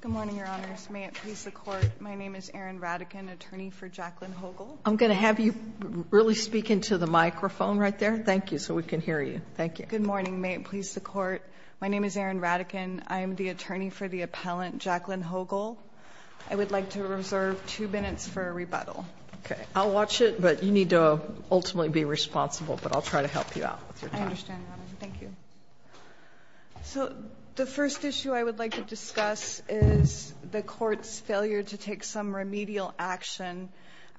Good morning, Your Honors. May it please the Court, my name is Erin Radican, attorney for Jacqueline Hoegel. I'm going to have you really speak into the microphone right there. Thank you, so we can hear you. Thank you. Good morning. May it please the Court, my name is Erin Radican. I'm the attorney for the appellant, Jacqueline Hoegel. I would like to reserve two minutes for rebuttal. Okay. I'll watch it, but you need to ultimately be responsible, but I'll try to help you out with your time. I understand, Your Honor. Thank you. So the first issue I would like to discuss is the Court's failure to take some remedial action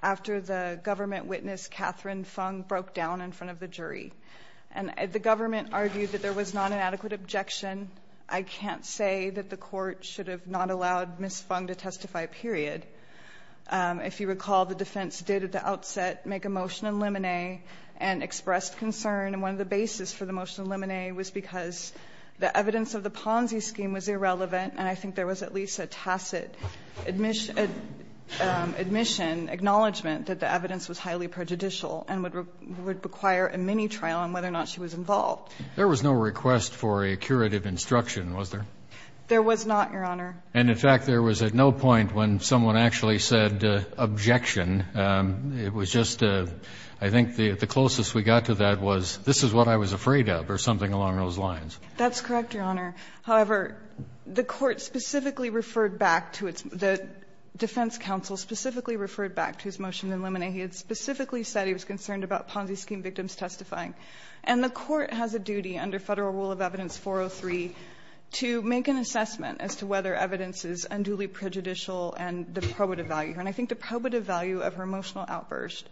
after the government witness, Catherine Fung, broke down in front of the jury. And the government argued that there was not an adequate objection. I can't say that the Court should have not allowed Ms. Fung to testify, period. If you recall, the defense did at the outset make a motion in limine and expressed concern. And one of the bases for the motion in limine was because the evidence of the Ponzi scheme was irrelevant, and I think there was at least a tacit admission, acknowledgment that the evidence was highly prejudicial and would require a mini-trial on whether or not she was involved. There was no request for a curative instruction, was there? There was not, Your Honor. And in fact, there was at no point when someone actually said objection. It was just, I think the closest we got to that was, this is what I was afraid of, or something along those lines. That's correct, Your Honor. However, the Court specifically referred back to its, the defense counsel specifically referred back to his motion in limine. He had specifically said he was concerned about Ponzi scheme victims testifying. And the Court has a duty under Federal Rule of Evidence 403 to make an assessment as to whether evidence is unduly prejudicial and deprobative value. And I think the probative value of her emotional outburst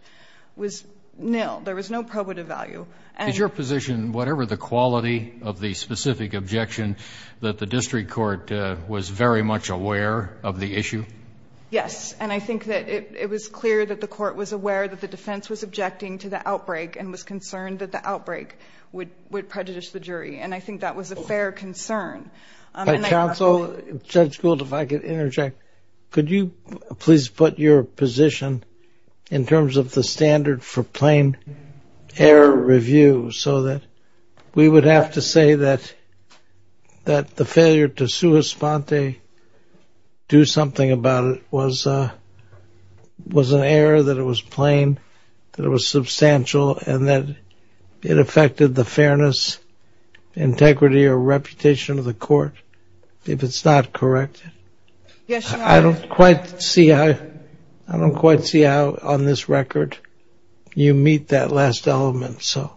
was nil. There was no probative value. Is your position, whatever the quality of the specific objection, that the district court was very much aware of the issue? Yes, and I think that it was clear that the court was aware that the defense was objecting to the outbreak and was concerned that the outbreak would prejudice the jury. And I think that was a fair concern. Counsel, Judge Gould, if I could interject, could you please put your position in terms of the standard for plain error review so that we would have to say that the failure to sua sponte, do something about it, was an error, that it was plain, that it was substantial, and that it affected the fairness, integrity, or reputation of the court? If it's not corrected. Yes, Your Honor. I don't quite see how on this record you meet that last element, so.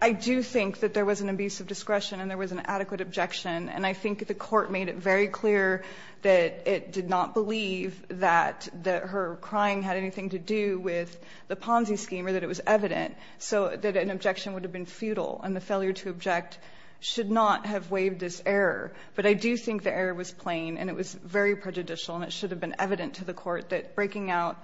I do think that there was an abuse of discretion and there was an adequate objection. And I think the court made it very clear that it did not believe that her crying had anything to do with the Ponzi scheme or that it was evident, so that an objection would have been futile and the failure to object should not have waived this error. But I do think the error was plain and it was very prejudicial and it should have been evident to the court that breaking out,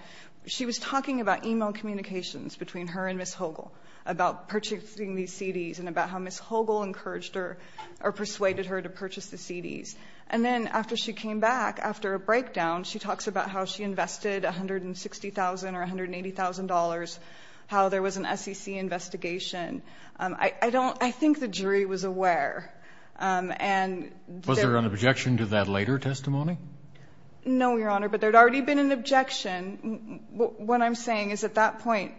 she was talking about e-mail communications between her and Ms. Hogle, about purchasing these CDs and about how Ms. Hogle encouraged her or persuaded her to purchase the CDs. And then after she came back, after a breakdown, she talks about how she invested $160,000 or $180,000, how there was an SEC investigation. I don't – I think the jury was aware. And there – Was there an objection to that later testimony? No, Your Honor. But there had already been an objection. What I'm saying is at that point,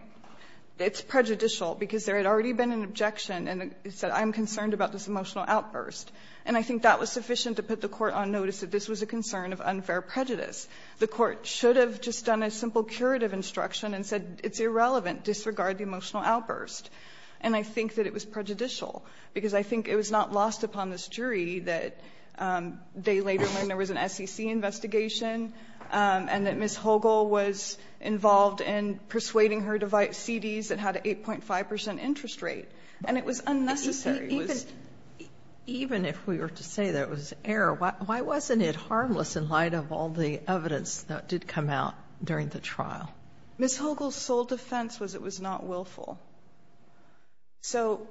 it's prejudicial because there had already been an objection and it said, I'm concerned about this emotional outburst. And I think that was sufficient to put the court on notice that this was a concern of unfair prejudice. The court should have just done a simple curative instruction and said it's irrelevant, disregard the emotional outburst. And I think that it was prejudicial because I think it was not lost upon this jury that they later learned there was an SEC investigation and that Ms. Hogle was involved in persuading her to buy CDs that had an 8.5 percent interest rate. And it was unnecessary. Even if we were to say that it was error, why wasn't it harmless in light of all the evidence that did come out during the trial? Ms. Hogle's sole defense was it was not willful. So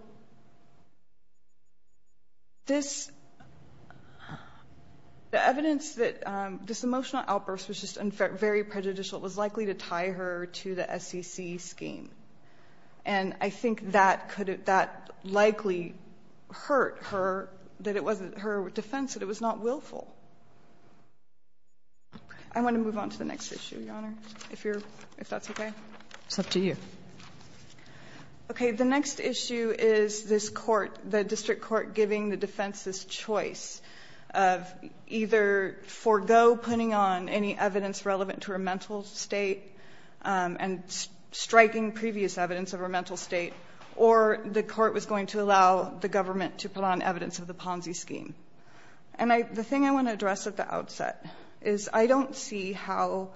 this – the evidence that this emotional outburst was just very prejudicial, it was likely to tie her to the SEC scheme. And I think that likely hurt her, that it wasn't her defense, that it was not willful. I want to move on to the next issue, Your Honor, if that's okay. It's up to you. Okay. The next issue is this court, the district court, giving the defense this choice of either forego putting on any evidence relevant to her mental state and striking previous evidence of her mental state, or the court was going to allow the government to put on evidence of the Ponzi scheme. And the thing I want to address at the outset is I don't see how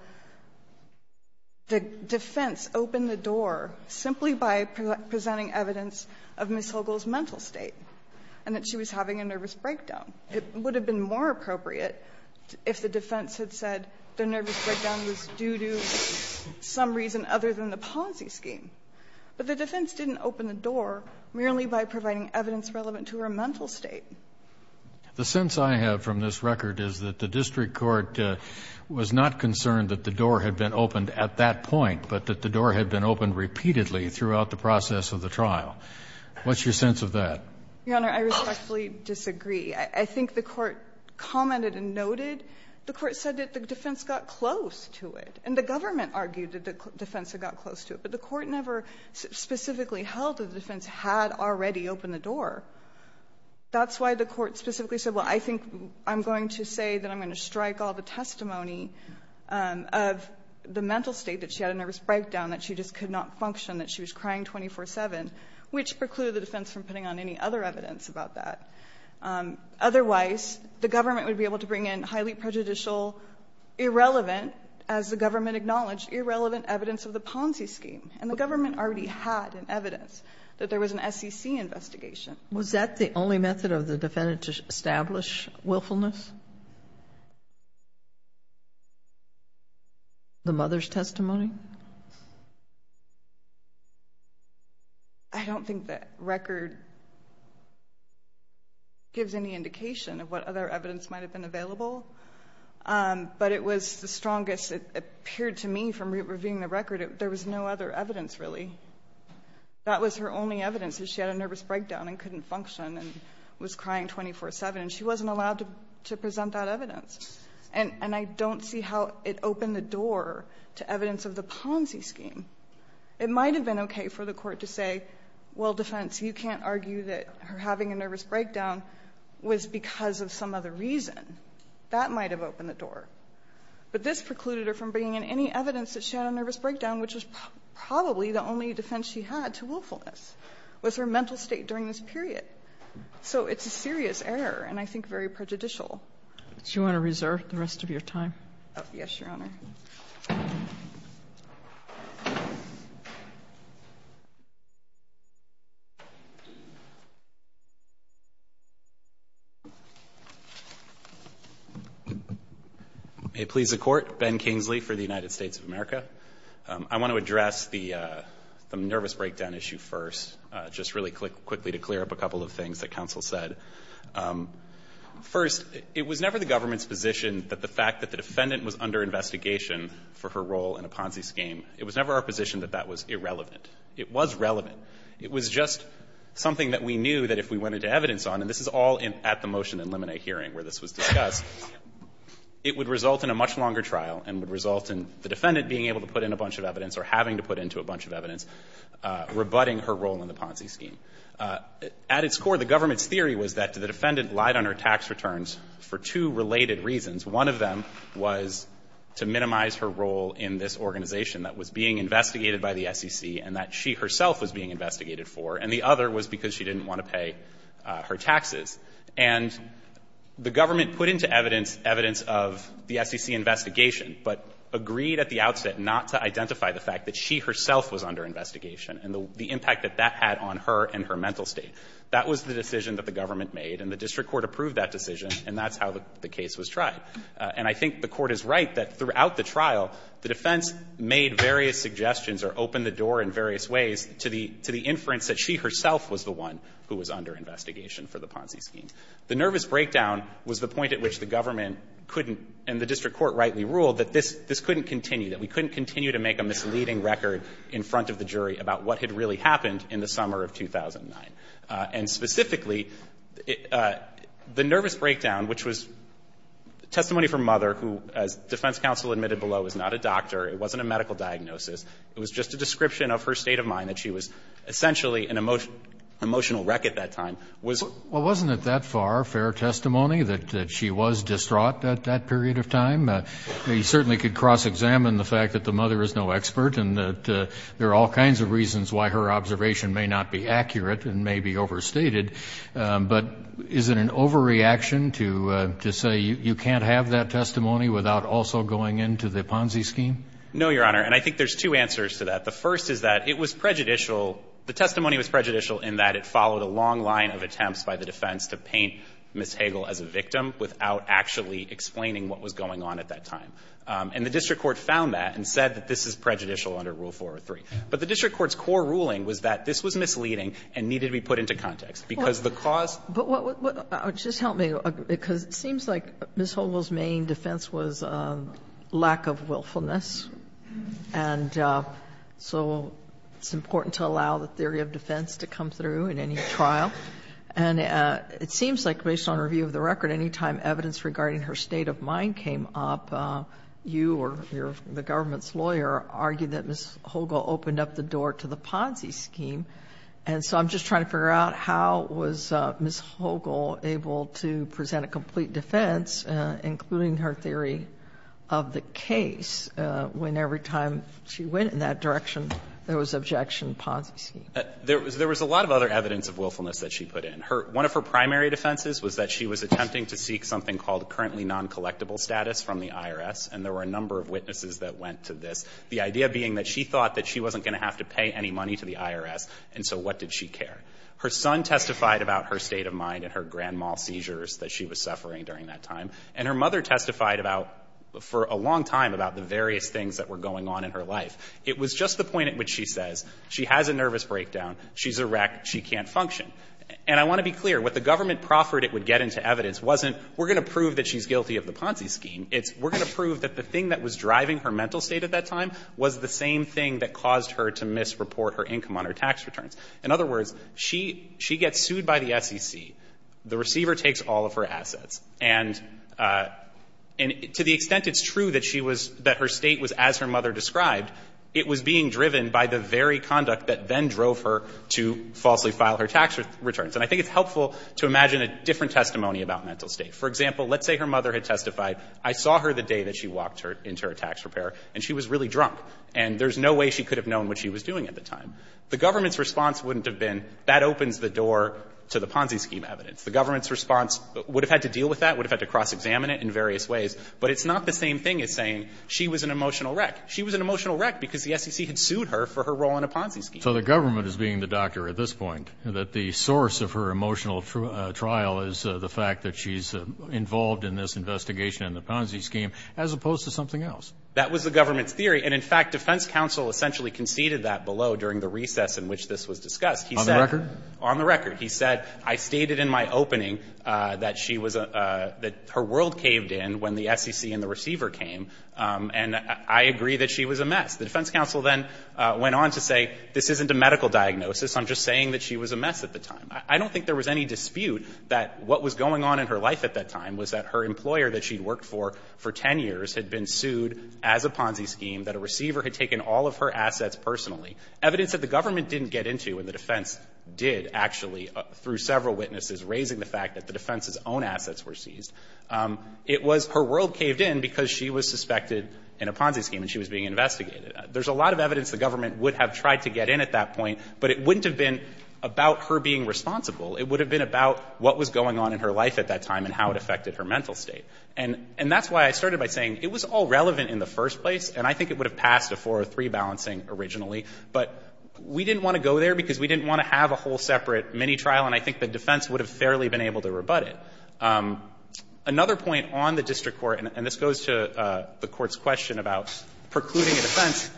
the defense opened the door simply by presenting evidence of Ms. Hogle's mental state and that she was having a nervous breakdown. It would have been more appropriate if the defense had said the nervous breakdown was due to some reason other than the Ponzi scheme. But the defense didn't open the door merely by providing evidence relevant to her mental state. The sense I have from this record is that the district court was not concerned that the door had been opened at that point, but that the door had been opened repeatedly throughout the process of the trial. What's your sense of that? Your Honor, I respectfully disagree. I think the court commented and noted the court said that the defense got close to it. And the government argued that the defense had got close to it. But the court never specifically held that the defense had already opened the door. That's why the court specifically said, well, I think I'm going to say that I'm going to strike all the testimony of the mental state, that she had a nervous breakdown, that she just could not function, that she was crying 24-7, which precluded the defense from putting on any other evidence about that. Otherwise, the government would be able to bring in highly prejudicial, irrelevant as the government acknowledged, irrelevant evidence of the Ponzi scheme. And the government already had evidence that there was an SEC investigation. Was that the only method of the defendant to establish willfulness? The mother's testimony? I don't think the record gives any indication of what other evidence might have been available. But it was the strongest. It appeared to me from reviewing the record, there was no other evidence, really. That was her only evidence, that she had a nervous breakdown and couldn't function and was crying 24-7. And she wasn't allowed to present that evidence. And I don't see how it opened the door to evidence of the Ponzi scheme. It might have been okay for the Court to say, well, defense, you can't argue that her having a nervous breakdown was because of some other reason. That might have opened the door. But this precluded her from bringing in any evidence that she had a nervous breakdown, which was probably the only defense she had to willfulness, was her mental state during this period. So it's a serious error and I think very prejudicial. Do you want to reserve the rest of your time? Yes, Your Honor. May it please the Court. Ben Kingsley for the United States of America. I want to address the nervous breakdown issue first, just really quickly to clear up a couple of things that counsel said. First, it was never the government's position that the fact that the defendant was under investigation for her role in a Ponzi scheme, it was never our position that that was irrelevant. It was relevant. It was just something that we knew that if we went into evidence on, and this is all at the motion in Lemonnet hearing where this was discussed, it would result in a much longer trial and would result in the defendant being able to put in a bunch of evidence or having to put into a bunch of evidence, rebutting her role in the Ponzi scheme. At its core, the government's theory was that the defendant lied on her tax returns for two related reasons. One of them was to minimize her role in this organization that was being investigated by the SEC and that she herself was being investigated for, and the other was because she didn't want to pay her taxes. And the government put into evidence evidence of the SEC investigation, but agreed at the outset not to identify the fact that she herself was under investigation and the impact that that had on her and her mental state. That was the decision that the government made, and the district court approved that decision, and that's how the case was tried. And I think the Court is right that throughout the trial, the defense made various suggestions or opened the door in various ways to the inference that she herself was the one who was under investigation for the Ponzi scheme. The nervous breakdown was the point at which the government couldn't, and the district court rightly ruled, that this couldn't continue, that we couldn't continue to make a misleading record in front of the jury about what had really happened in the summer of 2009. And specifically, the nervous breakdown, which was testimony from Mother, who, as defense counsel admitted below, was not a doctor, it wasn't a medical diagnosis, it was just a description of her state of mind, that she was essentially an emotional wreck at that time, was. Well, wasn't it that far fair testimony that she was distraught at that period of time? I mean, you certainly could cross-examine the fact that the mother is no expert and that there are all kinds of reasons why her observation may not be accurate and may be overstated, but is it an overreaction to say you can't have that testimony without also going into the Ponzi scheme? No, Your Honor, and I think there's two answers to that. The first is that it was prejudicial, the testimony was prejudicial in that it followed a long line of attempts by the defense to paint Ms. Hagel as a victim without actually explaining what was going on at that time. And the district court found that and said that this is prejudicial under Rule 403. But the district court's core ruling was that this was misleading and needed to be put into context, because the cause. But just help me, because it seems like Ms. Hagel's main defense was lack of willfulness. And so it's important to allow the theory of defense to come through in any trial. And it seems like, based on review of the record, any time evidence regarding her state of mind came up, you or the government's lawyer argued that Ms. Hagel opened up the door to the Ponzi scheme, and so I'm just trying to figure out how was Ms. Hagel able to present a complete defense, including her theory of the case, when every time she went in that direction, there was objection, Ponzi scheme? There was a lot of other evidence of willfulness that she put in. One of her primary defenses was that she was attempting to seek something called currently noncollectible status from the IRS, and there were a number of witnesses that went to this, the idea being that she thought that she wasn't going to have to pay any money to the IRS, and so what did she care? Her son testified about her state of mind and her grandma's seizures that she was suffering during that time, and her mother testified about, for a long time, about the various things that were going on in her life. It was just the point at which she says she has a nervous breakdown, she's a wreck, she can't function. And I want to be clear, what the government proffered it would get into evidence wasn't we're going to prove that she's guilty of the Ponzi scheme, it's we're going to prove that the thing that was driving her mental state at that time was the same thing that caused her to misreport her income on her tax returns. In other words, she gets sued by the SEC. The receiver takes all of her assets. And to the extent it's true that she was, that her state was as her mother described, it was being driven by the very conduct that then drove her to falsely file her tax returns. And I think it's helpful to imagine a different testimony about mental state. For example, let's say her mother had testified, I saw her the day that she walked her into her tax repair, and she was really drunk, and there's no way she could have known what she was doing at the time. The government's response wouldn't have been, that opens the door to the Ponzi scheme evidence. The government's response would have had to deal with that, would have had to cross-examine it in various ways. But it's not the same thing as saying she was an emotional wreck. She was an emotional wreck because the SEC had sued her for her role in a Ponzi scheme. So the government is being the doctor at this point, that the source of her emotional trial is the fact that she's involved in this investigation in the Ponzi scheme, as opposed to something else. That was the government's theory. And in fact, defense counsel essentially conceded that below during the recess in which this was discussed. On the record? On the record. He said, I stated in my opening that she was, that her world caved in when the SEC and the receiver came. And I agree that she was a mess. The defense counsel then went on to say, this isn't a medical diagnosis. I'm just saying that she was a mess at the time. I don't think there was any dispute that what was going on in her life at that time was that her employer that she had worked for for 10 years had been sued as a Ponzi scheme, that a receiver had taken all of her assets personally. Evidence that the government didn't get into, and the defense did actually through several witnesses, raising the fact that the defense's own assets were seized, it was her world caved in because she was suspected in a Ponzi scheme and she was being investigated. There's a lot of evidence the government would have tried to get in at that point, but it wouldn't have been about her being responsible. It would have been about what was going on in her life at that time and how it affected her mental state. And that's why I started by saying it was all relevant in the first place, and I think it would have passed a 403 balancing originally. But we didn't want to go there because we didn't want to have a whole separate mini trial, and I think the defense would have fairly been able to rebut it. Another point on the district court, and this goes to the Court's question about precluding a defense,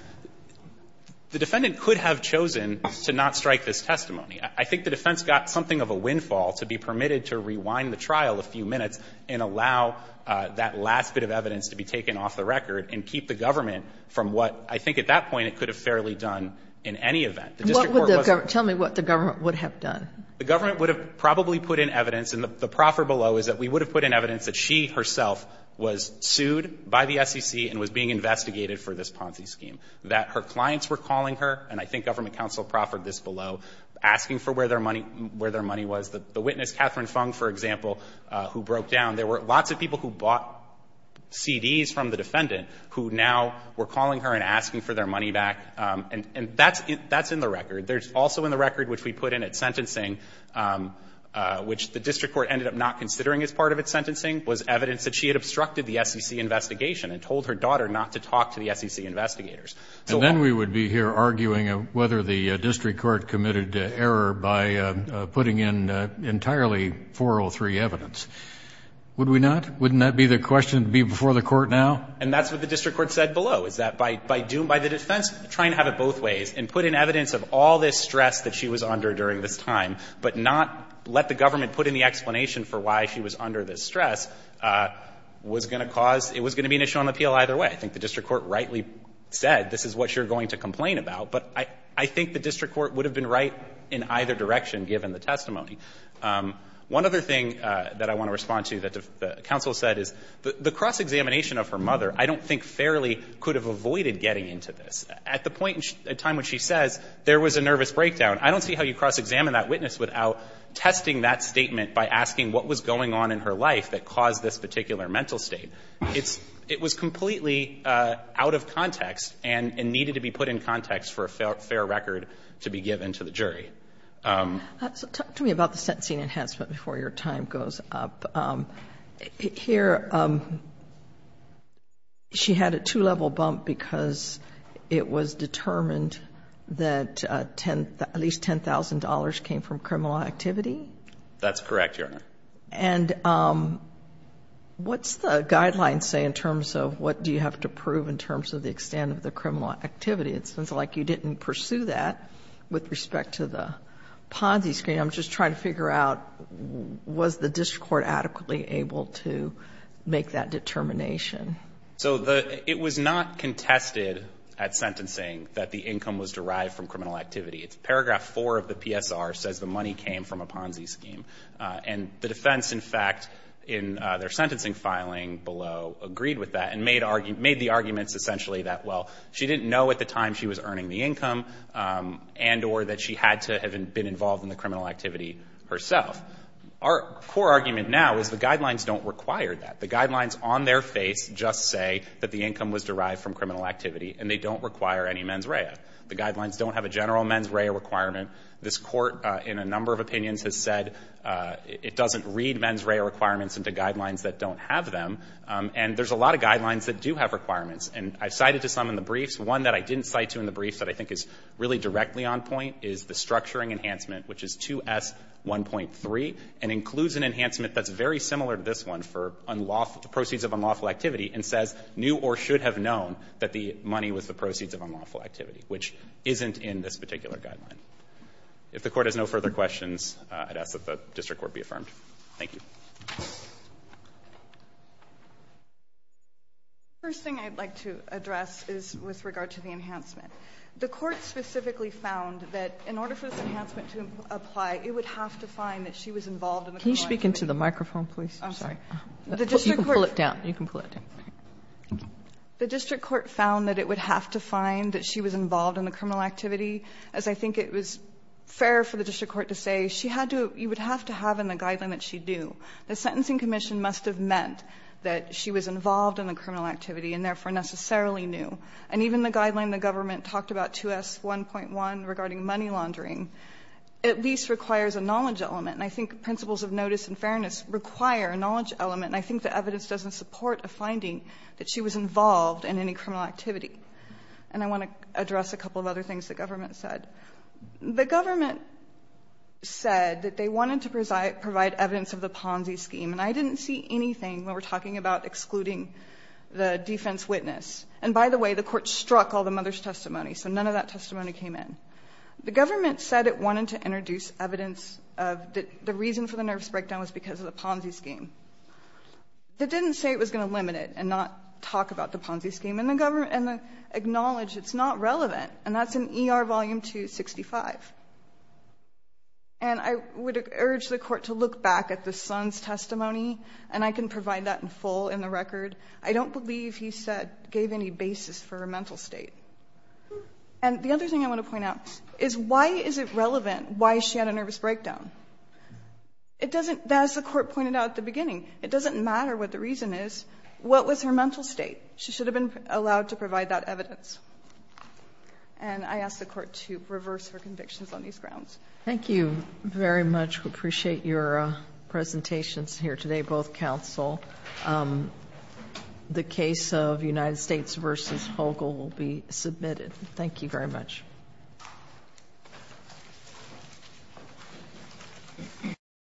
the defendant could have chosen to not strike this testimony. I think the defense got something of a windfall to be permitted to rewind the trial a few minutes and allow that last bit of evidence to be taken off the record and keep the government from what I think at that point it could have fairly done in any event. The district court was a bit of a failure. Sotomayor, tell me what the government would have done. The government would have probably put in evidence, and the proffer below is that we would have put in evidence that she herself was sued by the SEC and was being investigated for this Ponzi scheme, that her clients were calling her, and I think government counsel proffered this below, asking for where their money was. The witness, Catherine Fung, for example, who broke down, there were lots of people who bought CDs from the defendant who now were calling her and asking for their money back, and that's in the record. There's also in the record, which we put in at sentencing, which the district court ended up not considering as part of its sentencing, was evidence that she had obstructed the SEC investigation and told her daughter not to talk to the SEC investigators. So while we would be here arguing whether the district court committed error by putting in entirely 403 evidence, would we not? Wouldn't that be the question to be before the court now? And that's what the district court said below, is that by the defense, try and have it both ways, and put in evidence of all this stress that she was under during this time, but not let the government put in the explanation for why she was under this stress, was going to cause – it was going to be an issue on appeal either way. I think the district court rightly said this is what you're going to complain about, but I think the district court would have been right in either direction given the testimony. One other thing that I want to respond to that the counsel said is the cross-examination of her mother I don't think fairly could have avoided getting into this. At the point in time when she says there was a nervous breakdown, I don't see how you cross-examine that witness without testing that statement by asking what was going on in her life that caused this particular mental state. It's – it was completely out of context and needed to be put in context for a fair record to be given to the jury. So talk to me about the sentencing enhancement before your time goes up. Here, she had a two-level bump because it was determined that at least $10,000 came from criminal activity? That's correct, Your Honor. And what's the guidelines say in terms of what do you have to prove in terms of the extent of the criminal activity? It sounds like you didn't pursue that with respect to the Ponzi scheme. I'm just trying to figure out was the district court adequately able to make that determination? So the – it was not contested at sentencing that the income was derived from criminal activity. Paragraph 4 of the PSR says the money came from a Ponzi scheme. And the defense, in fact, in their sentencing filing below, agreed with that and made the arguments essentially that, well, she didn't know at the time she was earning the income and or that she had to have been involved in the criminal activity herself. Our core argument now is the guidelines don't require that. The guidelines on their face just say that the income was derived from criminal activity, and they don't require any mens rea. The guidelines don't have a general mens rea requirement. This Court, in a number of opinions, has said it doesn't read mens rea requirements into guidelines that don't have them. And there's a lot of guidelines that do have requirements. And I've cited to some in the briefs. One that I didn't cite to in the briefs that I think is really directly on point is the structuring enhancement, which is 2S1.3, and includes an enhancement that's very similar to this one for unlawful – proceeds of unlawful activity and says new or should have known that the money was the proceeds of unlawful activity, which isn't in this particular guideline. If the Court has no further questions, I'd ask that the district court be affirmed. Thank you. First thing I'd like to address is with regard to the enhancement. The Court specifically found that in order for this enhancement to apply, it would have to find that she was involved in the criminal activity. Can you speak into the microphone, please? I'm sorry. You can pull it down. You can pull it down. Thank you. The district court found that it would have to find that she was involved in the criminal activity, as I think it was fair for the district court to say. She had to – you would have to have in the guideline that she do. The sentencing commission must have meant that she was involved in the criminal activity and therefore necessarily knew. And even the guideline the government talked about, 2S1.1, regarding money laundering, at least requires a knowledge element. And I think principles of notice and fairness require a knowledge element, and I think the evidence doesn't support a finding that she was involved in any criminal activity. And I want to address a couple of other things the government said. The government said that they wanted to provide evidence of the Ponzi scheme, and I didn't see anything when we're talking about excluding the defense witness. And by the way, the court struck all the mother's testimony, so none of that testimony came in. The government said it wanted to introduce evidence of the reason for the nerves breakdown was because of the Ponzi scheme. It didn't say it was going to limit it and not talk about the Ponzi scheme, and the government acknowledged it's not relevant, and that's in ER Volume 265. And I would urge the court to look back at the son's testimony, and I can provide that in full in the record. I don't believe he said he gave any basis for her mental state. And the other thing I want to point out is why is it relevant why she had a nervous breakdown? As the court pointed out at the beginning, it doesn't matter what the reason is. What was her mental state? She should have been allowed to provide that evidence. And I ask the court to reverse her convictions on these grounds. Thank you very much. We appreciate your presentations here today, both counsel. The case of United States v. Hogle will be submitted. Thank you very much.